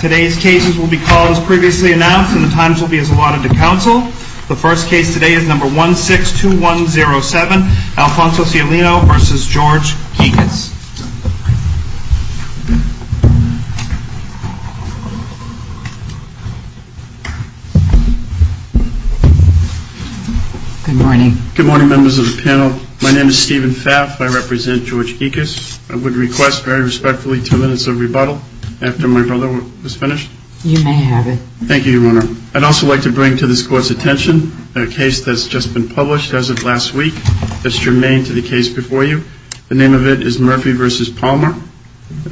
Today's cases will be called as previously announced and the times will be as allotted to counsel. The first case today is number 162107, Alfonso Cialino v. George Gikas. Good morning. Good morning members of the panel. My name is Stephen Pfaff. I represent George Gikas. I would request very respectfully two minutes of rebuttal after my brother was finished. You may have it. Thank you, Your Honor. I'd also like to bring to this Court's attention a case that's just been published as of last week. It's germane to the case before you. The name of it is Murphy v. Palmer.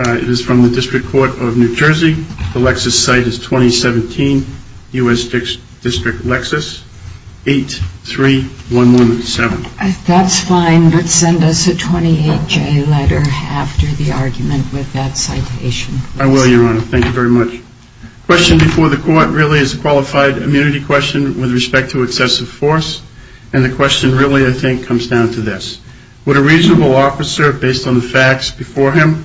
It is from the District Court of New Jersey. The Lexus site is 2017, U.S. District Lexus, 83117. That's fine. But send us a 28-J letter after the argument with that citation. I will, Your Honor. Thank you very much. The question before the Court really is a qualified immunity question with respect to excessive force. And the question really, I think, comes down to this. Would a reasonable officer, based on the facts before him,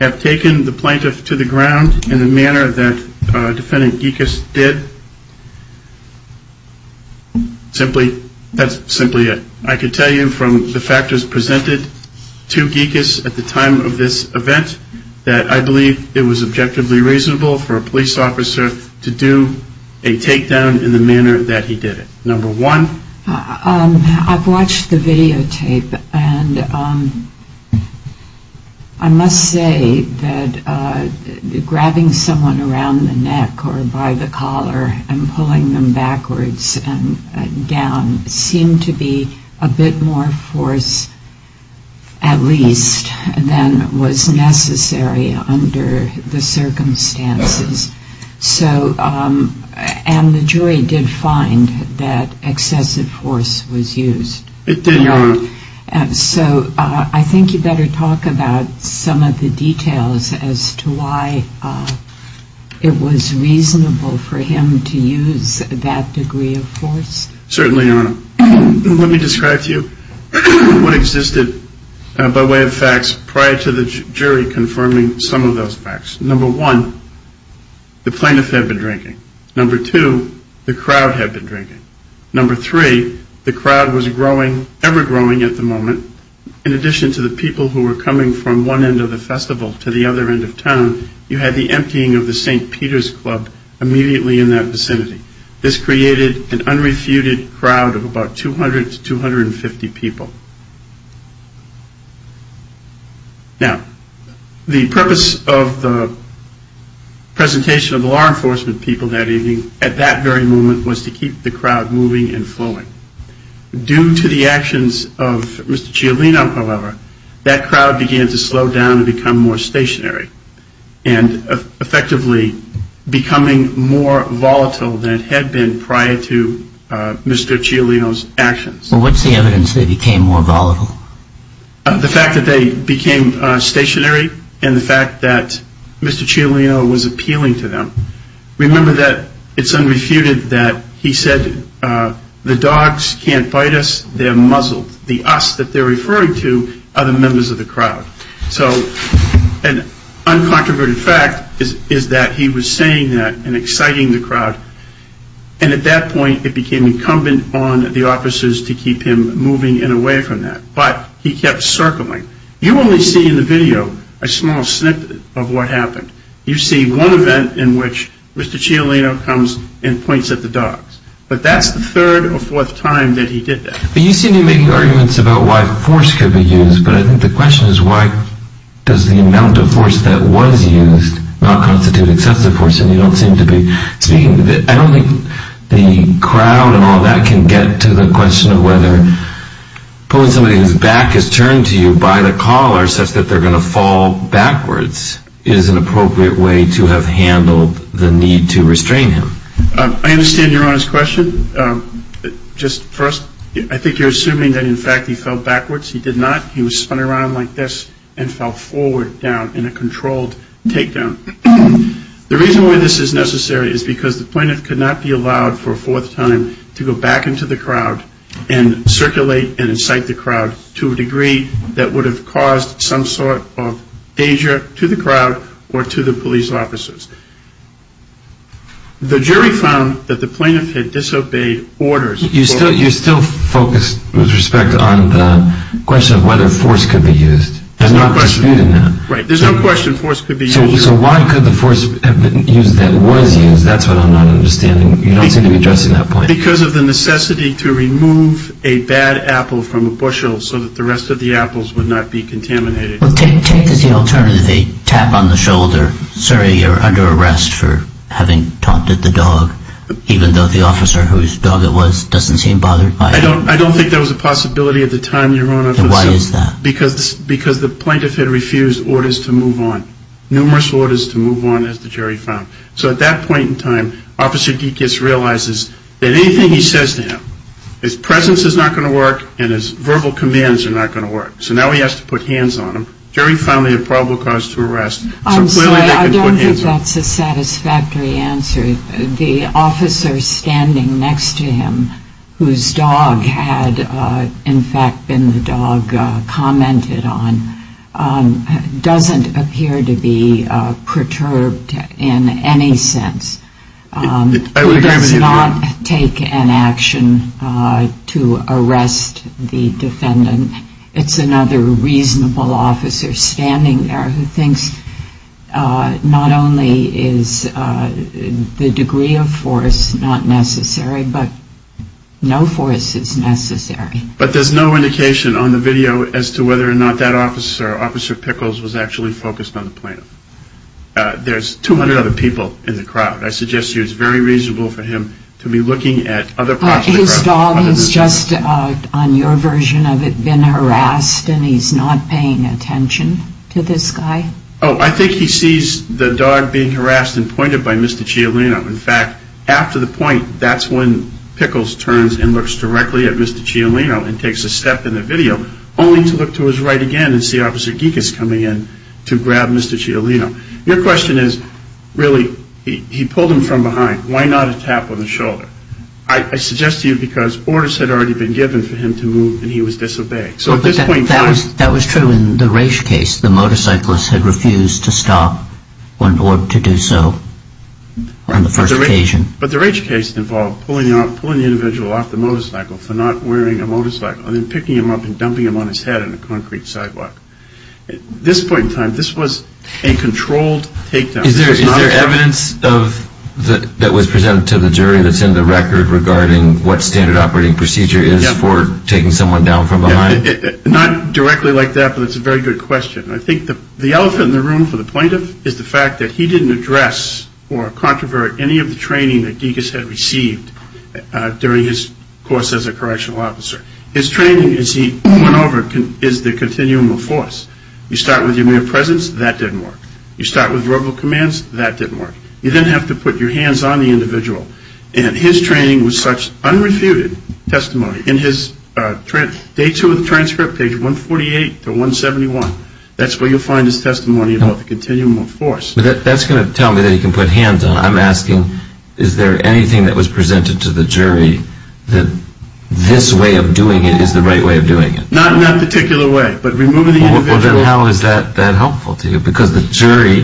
have taken the plaintiff to the ground in the manner that Defendant Gikas did? Simply, that's simply it. I could tell you from the factors presented to Gikas at the time of this event that I believe it was objectively reasonable for a police officer to do a takedown in the manner that he did it. Number one? I've watched the videotape, and I must say that grabbing someone around the neck or by the collar and pulling them backwards and down seemed to be a bit more force, at least, than was necessary under the circumstances. And the jury did find that excessive force was used. It did, Your Honor. So I think you'd better talk about some of the details as to why it was reasonable for him to use that degree of force. Certainly, Your Honor. Let me describe to you what existed by way of facts prior to the jury confirming some of those facts. Number one, the plaintiff had been drinking. Number two, the crowd had been drinking. Number three, the crowd was growing, ever growing at the moment. In addition to the people who were coming from one end of the festival to the other end of town, you had the emptying of the St. Peter's Club immediately in that vicinity. This created an unrefuted crowd of about 200 to 250 people. Now, the purpose of the presentation of the law enforcement people that evening at that very moment was to keep the crowd moving and flowing. Due to the actions of Mr. Cialino, however, that crowd began to slow down and become more stationary and effectively becoming more volatile than it had been prior to Mr. Cialino's actions. Well, what's the evidence they became more volatile? The fact that they became stationary and the fact that Mr. Cialino was appealing to them. Remember that it's unrefuted that he said the dogs can't bite us, they're muzzled. The us that they're referring to are the members of the crowd. So an uncontroverted fact is that he was saying that and exciting the crowd. And at that point, it became incumbent on the officers to keep him moving and away from that. But he kept circling. You only see in the video a small snippet of what happened. You see one event in which Mr. Cialino comes and points at the dogs. But that's the third or fourth time that he did that. But you seem to be making arguments about why force could be used. But I think the question is why does the amount of force that was used not constitute excessive force? And you don't seem to be speaking. I don't think the crowd and all that can get to the question of whether pulling somebody whose back is turned to you by the collar such that they're going to fall backwards is an appropriate way to have handled the need to restrain him. I understand Your Honor's question. Just first, I think you're assuming that, in fact, he fell backwards. He did not. He was spun around like this and fell forward down in a controlled takedown. The reason why this is necessary is because the plaintiff could not be allowed for a fourth time to go back into the crowd and circulate and incite the crowd to a degree that would have caused some sort of danger to the crowd or to the police officers. The jury found that the plaintiff had disobeyed orders. You're still focused with respect on the question of whether force could be used. There's no question. There's no dispute in that. Right. There's no question force could be used. So why could the force have been used that was used? That's what I'm not understanding. You don't seem to be addressing that point. Because of the necessity to remove a bad apple from a bushel so that the rest of the apples would not be contaminated. Take as the alternative a tap on the shoulder. Sorry, you're under arrest for having taunted the dog, even though the officer whose dog it was doesn't seem bothered by it. I don't think that was a possibility at the time, Your Honor. Then why is that? Because the plaintiff had refused orders to move on, numerous orders to move on, as the jury found. So at that point in time, Officer Dekus realizes that anything he says to him, his presence is not going to work and his verbal commands are not going to work. So now he has to put hands on him. The jury found he had probable cause to arrest. I'm sorry, I don't think that's a satisfactory answer. The officer standing next to him, whose dog had in fact been the dog commented on, doesn't appear to be perturbed in any sense. He does not take an action to arrest the defendant. It's another reasonable officer standing there who thinks not only is the degree of force not necessary, but no force is necessary. But there's no indication on the video as to whether or not that officer, Officer Pickles, was actually focused on the plaintiff. There's 200 other people in the crowd. I suggest to you it's very reasonable for him to be looking at other parts of the crowd. This dog has just, on your version of it, been harassed and he's not paying attention to this guy? Oh, I think he sees the dog being harassed and pointed by Mr. Cialino. In fact, after the point, that's when Pickles turns and looks directly at Mr. Cialino and takes a step in the video, only to look to his right again and see Officer Dekus coming in to grab Mr. Cialino. Your question is, really, he pulled him from behind. Why not a tap on the shoulder? I suggest to you because orders had already been given for him to move and he was disobeyed. That was true in the Raich case. The motorcyclist had refused to stop in order to do so on the first occasion. But the Raich case involved pulling the individual off the motorcycle for not wearing a motorcycle and then picking him up and dumping him on his head on a concrete sidewalk. At this point in time, this was a controlled takedown. Is there evidence that was presented to the jury that's in the record regarding what standard operating procedure is for taking someone down from behind? Not directly like that, but it's a very good question. I think the elephant in the room for the plaintiff is the fact that he didn't address or controvert any of the training that Dekus had received during his course as a correctional officer. His training, as he went over, is the continuum of force. You start with your mere presence, that didn't work. You start with verbal commands, that didn't work. You then have to put your hands on the individual. And his training was such unrefuted testimony. In his day two of the transcript, page 148 to 171, that's where you'll find his testimony about the continuum of force. That's going to tell me that he can put hands on. I'm asking, is there anything that was presented to the jury that this way of doing it is the right way of doing it? Not in that particular way, but removing the individual. Well, then how is that helpful to you? Because the jury,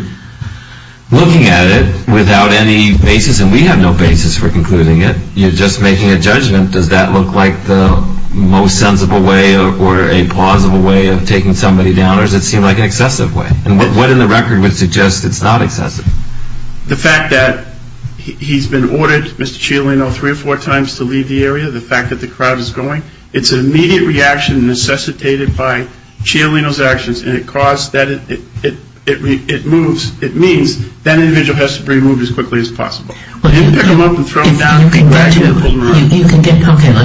looking at it without any basis, and we have no basis for concluding it, you're just making a judgment. Does that look like the most sensible way or a plausible way of taking somebody down? Or does it seem like an excessive way? And what in the record would suggest it's not excessive? The fact that he's been ordered, Mr. Cialino, three or four times to leave the area, the fact that the crowd is going, it's an immediate reaction necessitated by Cialino's actions, and it means that individual has to be removed as quickly as possible. You can pick him up and throw him down. Okay, let's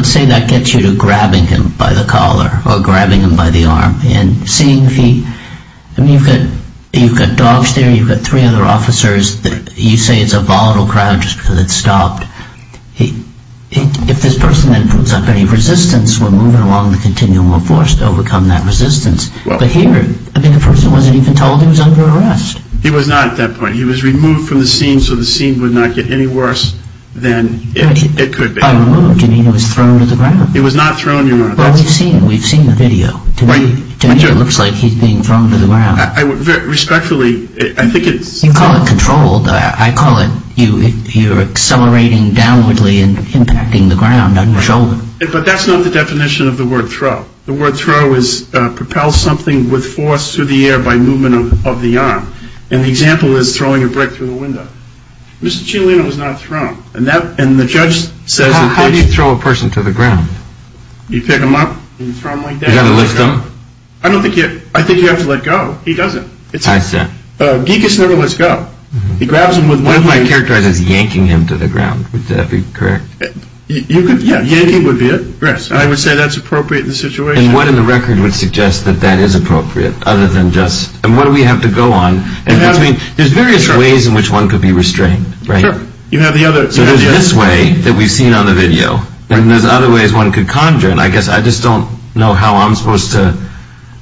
say that gets you to grabbing him by the collar or grabbing him by the arm. And seeing if he, I mean, you've got dogs there, you've got three other officers. You say it's a volatile crowd just because it's stopped. If this person then puts up any resistance, we're moving along the continuum of force to overcome that resistance. But here, I mean, the person wasn't even told he was under arrest. He was not at that point. He was removed from the scene so the scene would not get any worse than it could be. By removed, do you mean he was thrown to the ground? He was not thrown to the ground. Well, we've seen the video. To me, it looks like he's being thrown to the ground. Respectfully, I think it's— You call it controlled. I call it you're accelerating downwardly and impacting the ground on your shoulder. But that's not the definition of the word throw. The word throw is propel something with force through the air by movement of the arm. And the example is throwing a brick through the window. Mr. Cianlino was not thrown. And the judge says— How do you throw a person to the ground? You pick him up and throw him like that. You've got to lift him? I don't think you—I think you have to let go. He doesn't. I see. Geekus never lets go. He grabs him with one hand. One of my characterizers is yanking him to the ground. Would that be correct? Yeah, yanking would be it. Yes, I would say that's appropriate in the situation. And what in the record would suggest that that is appropriate other than just— And what do we have to go on? There's various ways in which one could be restrained, right? Sure. You have the other— So there's this way that we've seen on the video. And there's other ways one could conjure. And I guess I just don't know how I'm supposed to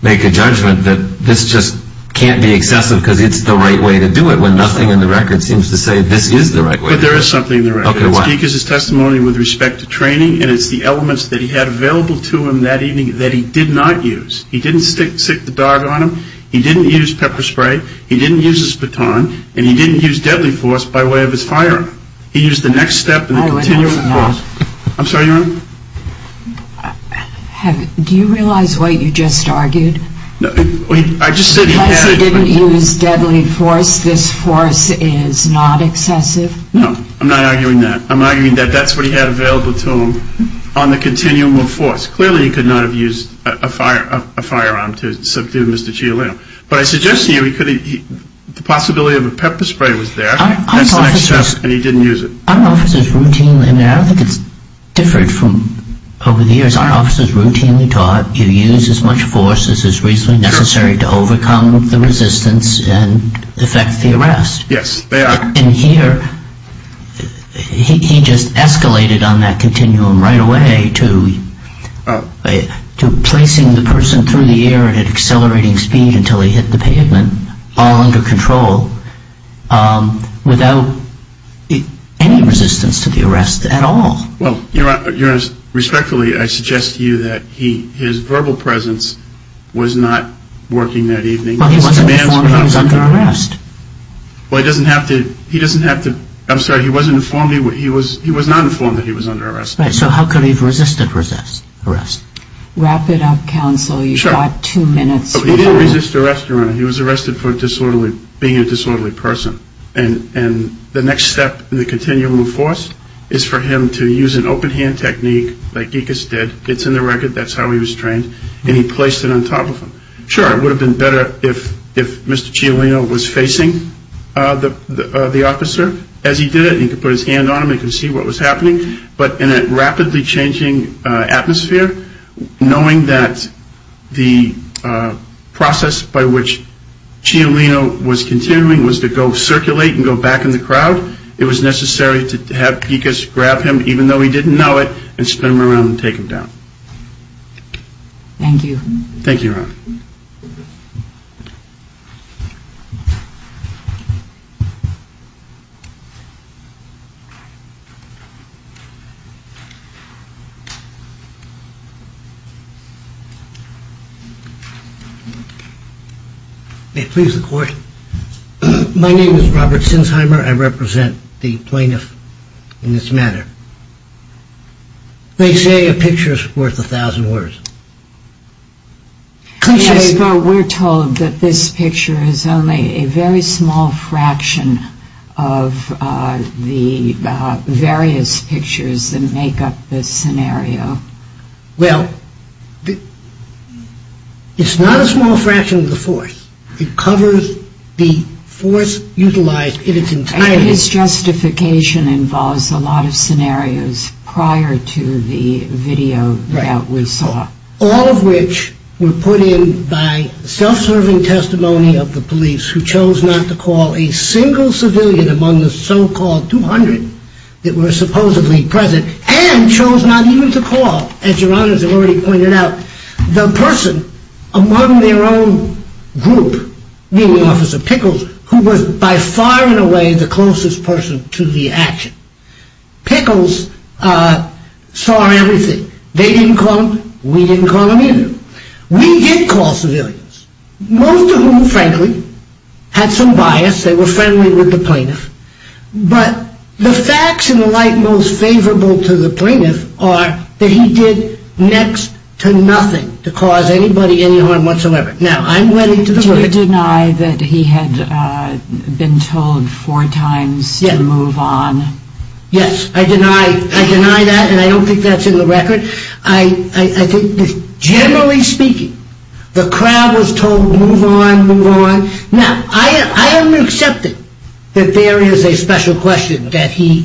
make a judgment that this just can't be excessive because it's the right way to do it when nothing in the record seems to say this is the right way to do it. But there is something in the record. Okay, what? It's Geekus' testimony with respect to training, and it's the elements that he had available to him that evening that he did not use. He didn't stick the dog on him. He didn't use pepper spray. He didn't use his baton. And he didn't use deadly force by way of his firearm. He used the next step and the continual force. I would also— I'm sorry, Your Honor? Do you realize what you just argued? I just said he had— Unless he didn't use deadly force, this force is not excessive? No, I'm not arguing that. I'm arguing that that's what he had available to him on the continuum of force. Clearly, he could not have used a firearm to subdue Mr. Chialetto. But I suggest to you he could have—the possibility of a pepper spray was there. That's the next step, and he didn't use it. Our officers routinely—and I don't think it's different from over the years. Our officers routinely taught you use as much force as is reasonably necessary to overcome the resistance and effect the arrest. Yes, they are. And here, he just escalated on that continuum right away to placing the person through the air at an accelerating speed until he hit the pavement, all under control, without any resistance to the arrest at all. Well, Your Honor, respectfully, I suggest to you that his verbal presence was not working that evening. Well, he wasn't informed he was under arrest. Well, he doesn't have to—I'm sorry, he wasn't informed—he was not informed that he was under arrest. Right, so how could he have resisted arrest? Wrap it up, counsel. Sure. You've got two minutes. He didn't resist arrest, Your Honor. He was arrested for being a disorderly person. And the next step in the continuum of force is for him to use an open-hand technique like Gikas did. It's in the record. That's how he was trained. And he placed it on top of him. Sure, it would have been better if Mr. Cialino was facing the officer as he did it. He could put his hand on him. He could see what was happening. But in a rapidly changing atmosphere, knowing that the process by which Cialino was continuing was to go circulate and go back in the crowd, it was necessary to have Gikas grab him, even though he didn't know it, and spin him around and take him down. Thank you. Thank you, Your Honor. May it please the Court. My name is Robert Sinsheimer. I represent the plaintiff in this matter. They say a picture is worth a thousand words. Yes, but we're told that this picture is only a very small fraction of the various pictures that make up this scenario. Well, it's not a small fraction of the force. It covers the force utilized in its entirety. But his justification involves a lot of scenarios prior to the video that we saw. All of which were put in by self-serving testimony of the police, who chose not to call a single civilian among the so-called 200 that were supposedly present, and chose not even to call, as Your Honor has already pointed out, the person among their own group, meaning Officer Pickles, who was by far and away the closest person to the action. Pickles saw everything. They didn't call them. We didn't call them either. We did call civilians, most of whom, frankly, had some bias. They were friendly with the plaintiff. But the facts and the like most favorable to the plaintiff are that he did next to nothing to cause anybody any harm whatsoever. Now, I'm wedding to the verdict. Do you deny that he had been told four times to move on? Yes, I deny that, and I don't think that's in the record. I think, generally speaking, the crowd was told, move on, move on. Now, I am accepting that there is a special question that he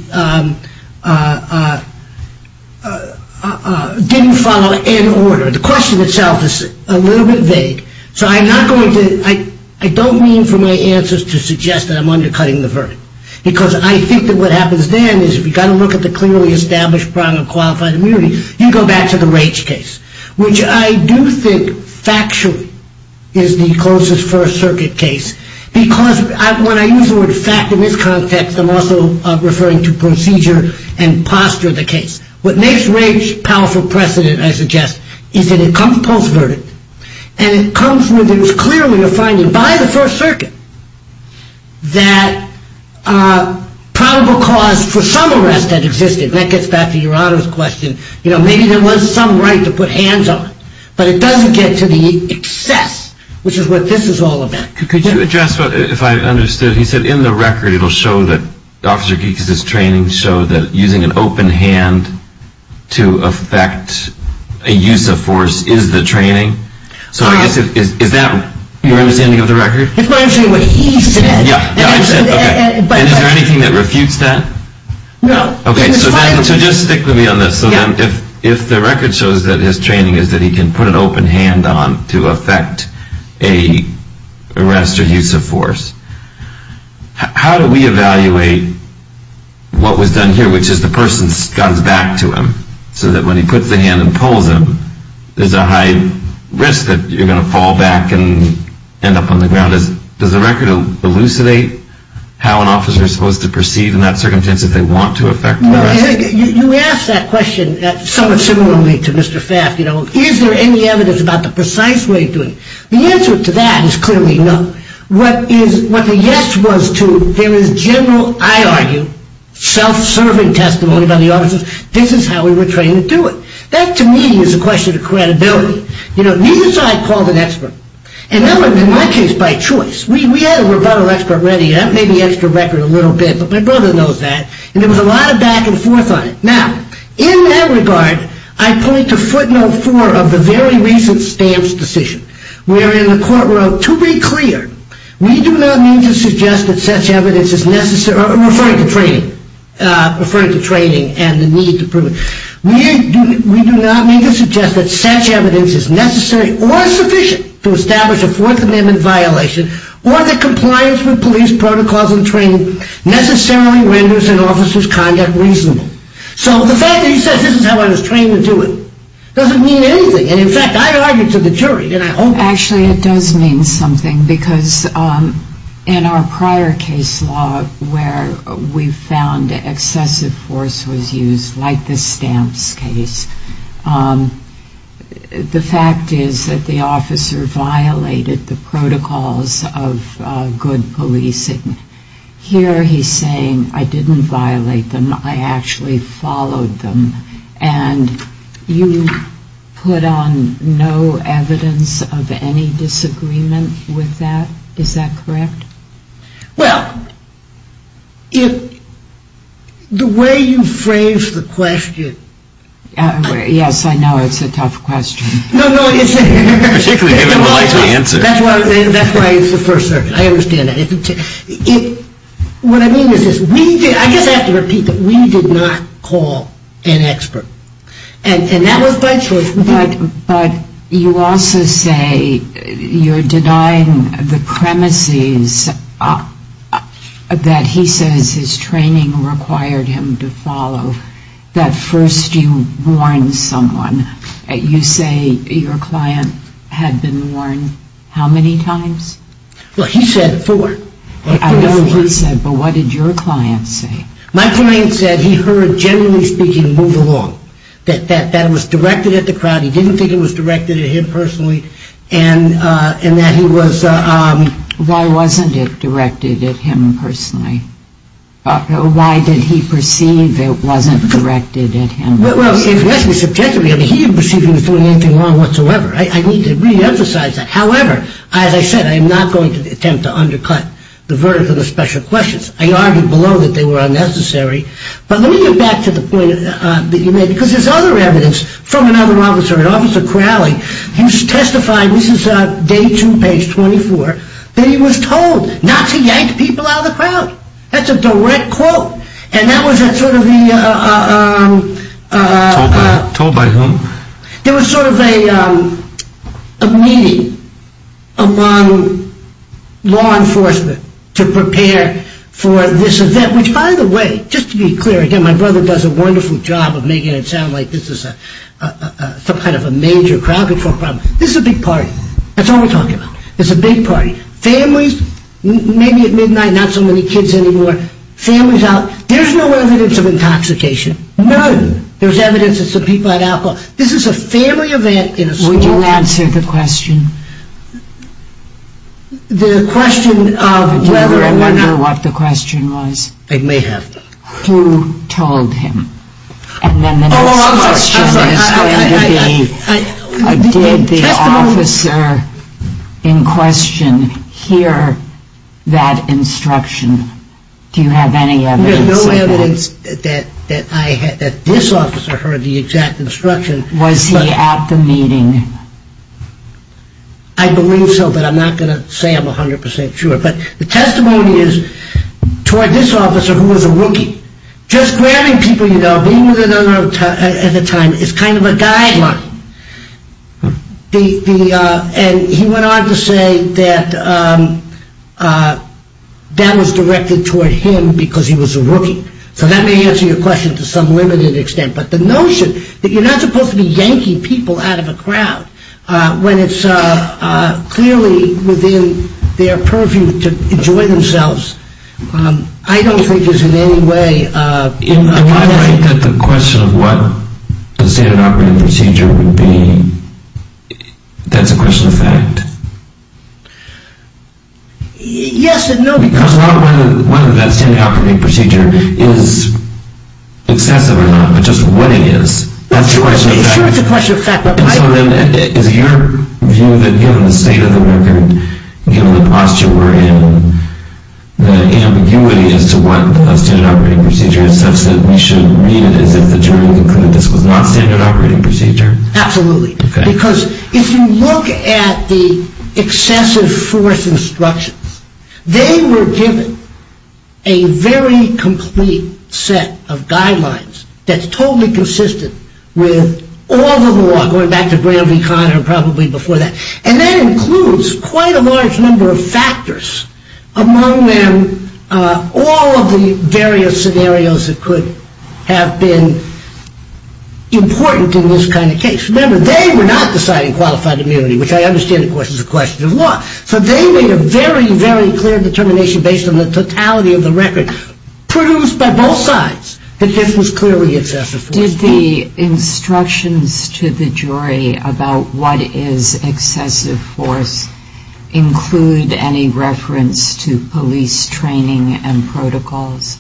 didn't follow any order. The question itself is a little bit vague, so I'm not going to ‑‑ I don't mean for my answers to suggest that I'm undercutting the verdict, because I think that what happens then is, if you've got to look at the clearly established problem of qualified immunity, you go back to the Rage case, which I do think, factually, is the closest First Circuit case, because when I use the word fact in this context, I'm also referring to procedure and posture of the case. What makes Rage a powerful precedent, I suggest, is that it comes post-verdict, and it comes with clearly a finding by the First Circuit that probable cause for some arrest had existed. And that gets back to Jurado's question. You know, maybe there was some right to put hands on it, but it doesn't get to the excess, which is what this is all about. Could you address, if I understood, he said in the record, it will show that Officer Geekes' training showed that using an open hand to affect a use of force is the training. So I guess, is that your understanding of the record? It's largely what he said. Yeah, I said, okay. And is there anything that refutes that? No. Okay, so just stick with me on this. So if the record shows that his training is that he can put an open hand on to affect an arrest or use of force, how do we evaluate what was done here, which is the person scuds back to him, so that when he puts the hand and pulls him, there's a high risk that you're going to fall back and end up on the ground? Does the record elucidate how an officer is supposed to proceed in that circumstance if they want to affect an arrest? You asked that question somewhat similarly to Mr. Faft. You know, is there any evidence about the precise way of doing it? The answer to that is clearly no. What the yes was to there is general, I argue, self-serving testimony by the officers. This is how we were trained to do it. That, to me, is a question of credibility. You know, neither side called an expert. And that was, in my case, by choice. We had a rebuttal expert ready. That may be extra record a little bit, but my brother knows that. And there was a lot of back and forth on it. Now, in that regard, I point to footnote four of the very recent stamps decision, wherein the court wrote, to be clear, we do not mean to suggest that such evidence is necessary, referring to training and the need to prove it, we do not mean to suggest that such evidence is necessary or sufficient to establish a Fourth Amendment violation or that compliance with police protocols and training necessarily renders an officer's conduct reasonable. So the fact that he says this is how I was trained to do it doesn't mean anything. And, in fact, I argued to the jury. Actually, it does mean something because in our prior case law where we found excessive force was used, like the stamps case, the fact is that the officer violated the protocols of good policing. Here he's saying, I didn't violate them. I actually followed them. And you put on no evidence of any disagreement with that. Is that correct? Well, the way you phrased the question. Yes, I know it's a tough question. No, no. That's why it's the First Circuit. I understand that. What I mean is this. I guess I have to repeat that we did not call an expert. And that was by choice. But you also say you're denying the premises that he says his training required him to follow. That first you warned someone. You say your client had been warned how many times? Well, he said four. I know he said, but what did your client say? My client said he heard, generally speaking, move along. That that was directed at the crowd. He didn't think it was directed at him personally and that he was... Why wasn't it directed at him personally? Why did he perceive it wasn't directed at him personally? Well, if you ask me subjectively, he didn't perceive he was doing anything wrong whatsoever. I need to reemphasize that. However, as I said, I am not going to attempt to undercut the verdict of the special questions. I argued below that they were unnecessary. But let me get back to the point that you made. Because there's other evidence from another officer, an officer Crowley, who testified, this is day two, page 24, that he was told not to yank people out of the crowd. That's a direct quote. And that was sort of the... Told by whom? There was sort of a meeting among law enforcement to prepare for this event. Which, by the way, just to be clear, again, my brother does a wonderful job of making it sound like this is a kind of a major crowd control problem. This is a big party. That's all we're talking about. It's a big party. Families, maybe at midnight, not so many kids anymore. Families out... There's no evidence of intoxication. None. There's evidence that some people had alcohol. This is a family event in a small town. Would you answer the question? The question of whether or not... Do you remember what the question was? I may have. Who told him? And then the next question is going to be... Oh, I'm sorry. I'm sorry. I... Did the officer in question hear that instruction? Do you have any evidence of that? I have no evidence that this officer heard the exact instruction. Was he at the meeting? I believe so, but I'm not going to say I'm 100 percent sure. But the testimony is toward this officer who was a rookie. Just grabbing people, you know, being with another at the time is kind of a guideline. And he went on to say that that was directed toward him because he was a rookie. So that may answer your question to some limited extent. But the notion that you're not supposed to be yanking people out of a crowd when it's clearly within their purview to enjoy themselves, I don't think is in any way... That's a question of fact. Yes and no. Because not whether that standard operating procedure is excessive or not, but just what it is. That's a question of fact. Sure, it's a question of fact. And so then is your view that given the state of the record, given the posture we're in, the ambiguity as to what a standard operating procedure is, we should read it as if the jury would conclude this was not a standard operating procedure? Absolutely. Because if you look at the excessive force instructions, they were given a very complete set of guidelines that's totally consistent with all the law, going back to Graham v. Conner and probably before that. And that includes quite a large number of factors. Among them, all of the various scenarios that could have been important in this kind of case. Remember, they were not deciding qualified immunity, which I understand, of course, is a question of law. So they made a very, very clear determination based on the totality of the record, proved by both sides that this was clearly excessive force. Did the instructions to the jury about what is excessive force include any reference to police training and protocols?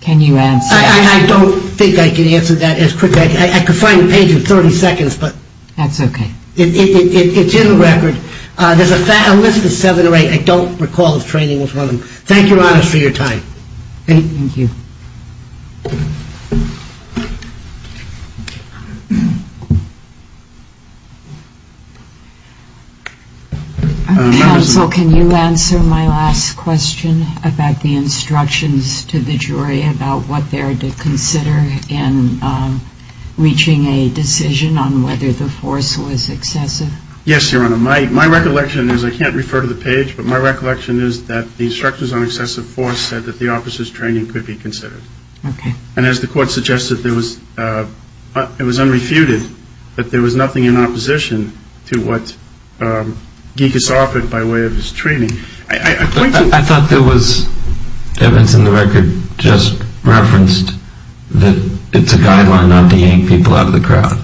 Can you answer that? I don't think I can answer that as quickly. I could find the page in 30 seconds. That's okay. It's in the record. There's a list of seven or eight. I don't recall if training was one of them. Thank you, Your Honor, for your time. Thank you. Counsel, can you answer my last question about the instructions to the jury about what they are to consider in reaching a decision on whether the force was excessive? Yes, Your Honor. My recollection is, I can't refer to the page, but my recollection is that the instructions on excessive force said that the officer's training could be considered. Okay. And as the court suggested, it was unrefuted that there was nothing in opposition to what Gikas offered by way of his training. I thought there was evidence in the record just referenced that it's a guideline not to yank people out of the crowd.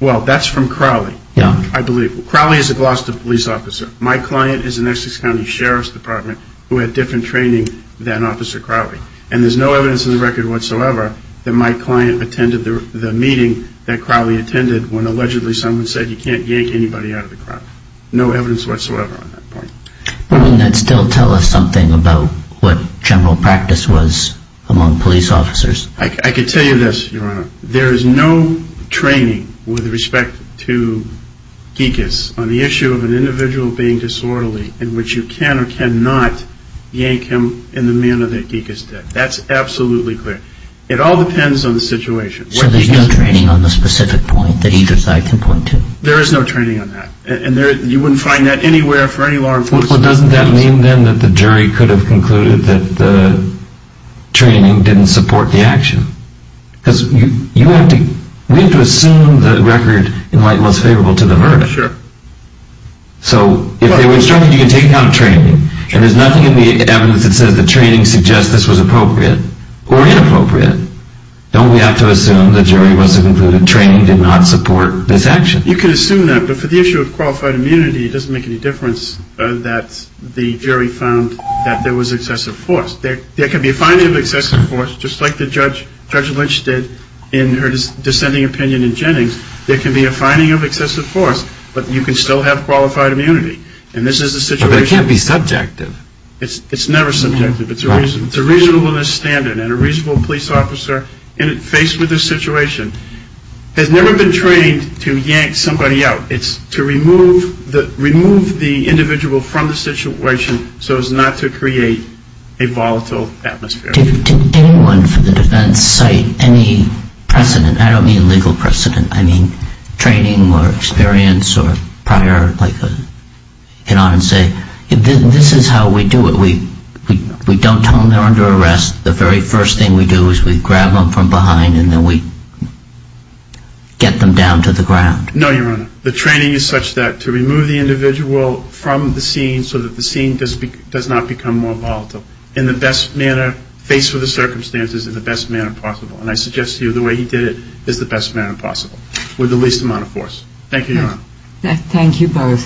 Well, that's from Crowley. Yeah. I believe. Crowley is a Gloucester police officer. My client is an Essex County Sheriff's Department who had different training than Officer Crowley. And there's no evidence in the record whatsoever that my client attended the meeting that Crowley attended when allegedly someone said you can't yank anybody out of the crowd. No evidence whatsoever on that point. But wouldn't that still tell us something about what general practice was among police officers? I could tell you this, Your Honor. There is no training with respect to Gikas on the issue of an individual being disorderly in which you can or cannot yank him in the manner that Gikas did. That's absolutely clear. It all depends on the situation. So there's no training on the specific point that either side can point to? There is no training on that. And you wouldn't find that anywhere for any law enforcement. Well, doesn't that mean, then, that the jury could have concluded that the training didn't support the action? Because you have to assume the record in light was favorable to the verdict. Sure. So if they were instructed you can take account of training, and there's nothing in the evidence that says the training suggests this was appropriate or inappropriate. Don't we have to assume the jury must have concluded training did not support this action? You can assume that, but for the issue of qualified immunity, it doesn't make any difference that the jury found that there was excessive force. There can be a finding of excessive force, just like Judge Lynch did in her dissenting opinion in Jennings. There can be a finding of excessive force, but you can still have qualified immunity. But it can't be subjective. It's never subjective. It's a reasonableness standard. And a reasonable police officer faced with this situation has never been trained to yank somebody out. It's to remove the individual from the situation so as not to create a volatile atmosphere. Did anyone from the defense cite any precedent? I don't mean legal precedent. I mean training or experience or prior, like a, you know, and say, this is how we do it. If we don't tell them they're under arrest, the very first thing we do is we grab them from behind and then we get them down to the ground. No, Your Honor. The training is such that to remove the individual from the scene so that the scene does not become more volatile in the best manner, faced with the circumstances in the best manner possible. And I suggest to you the way he did it is the best manner possible with the least amount of force. Thank you, Your Honor. Thank you both.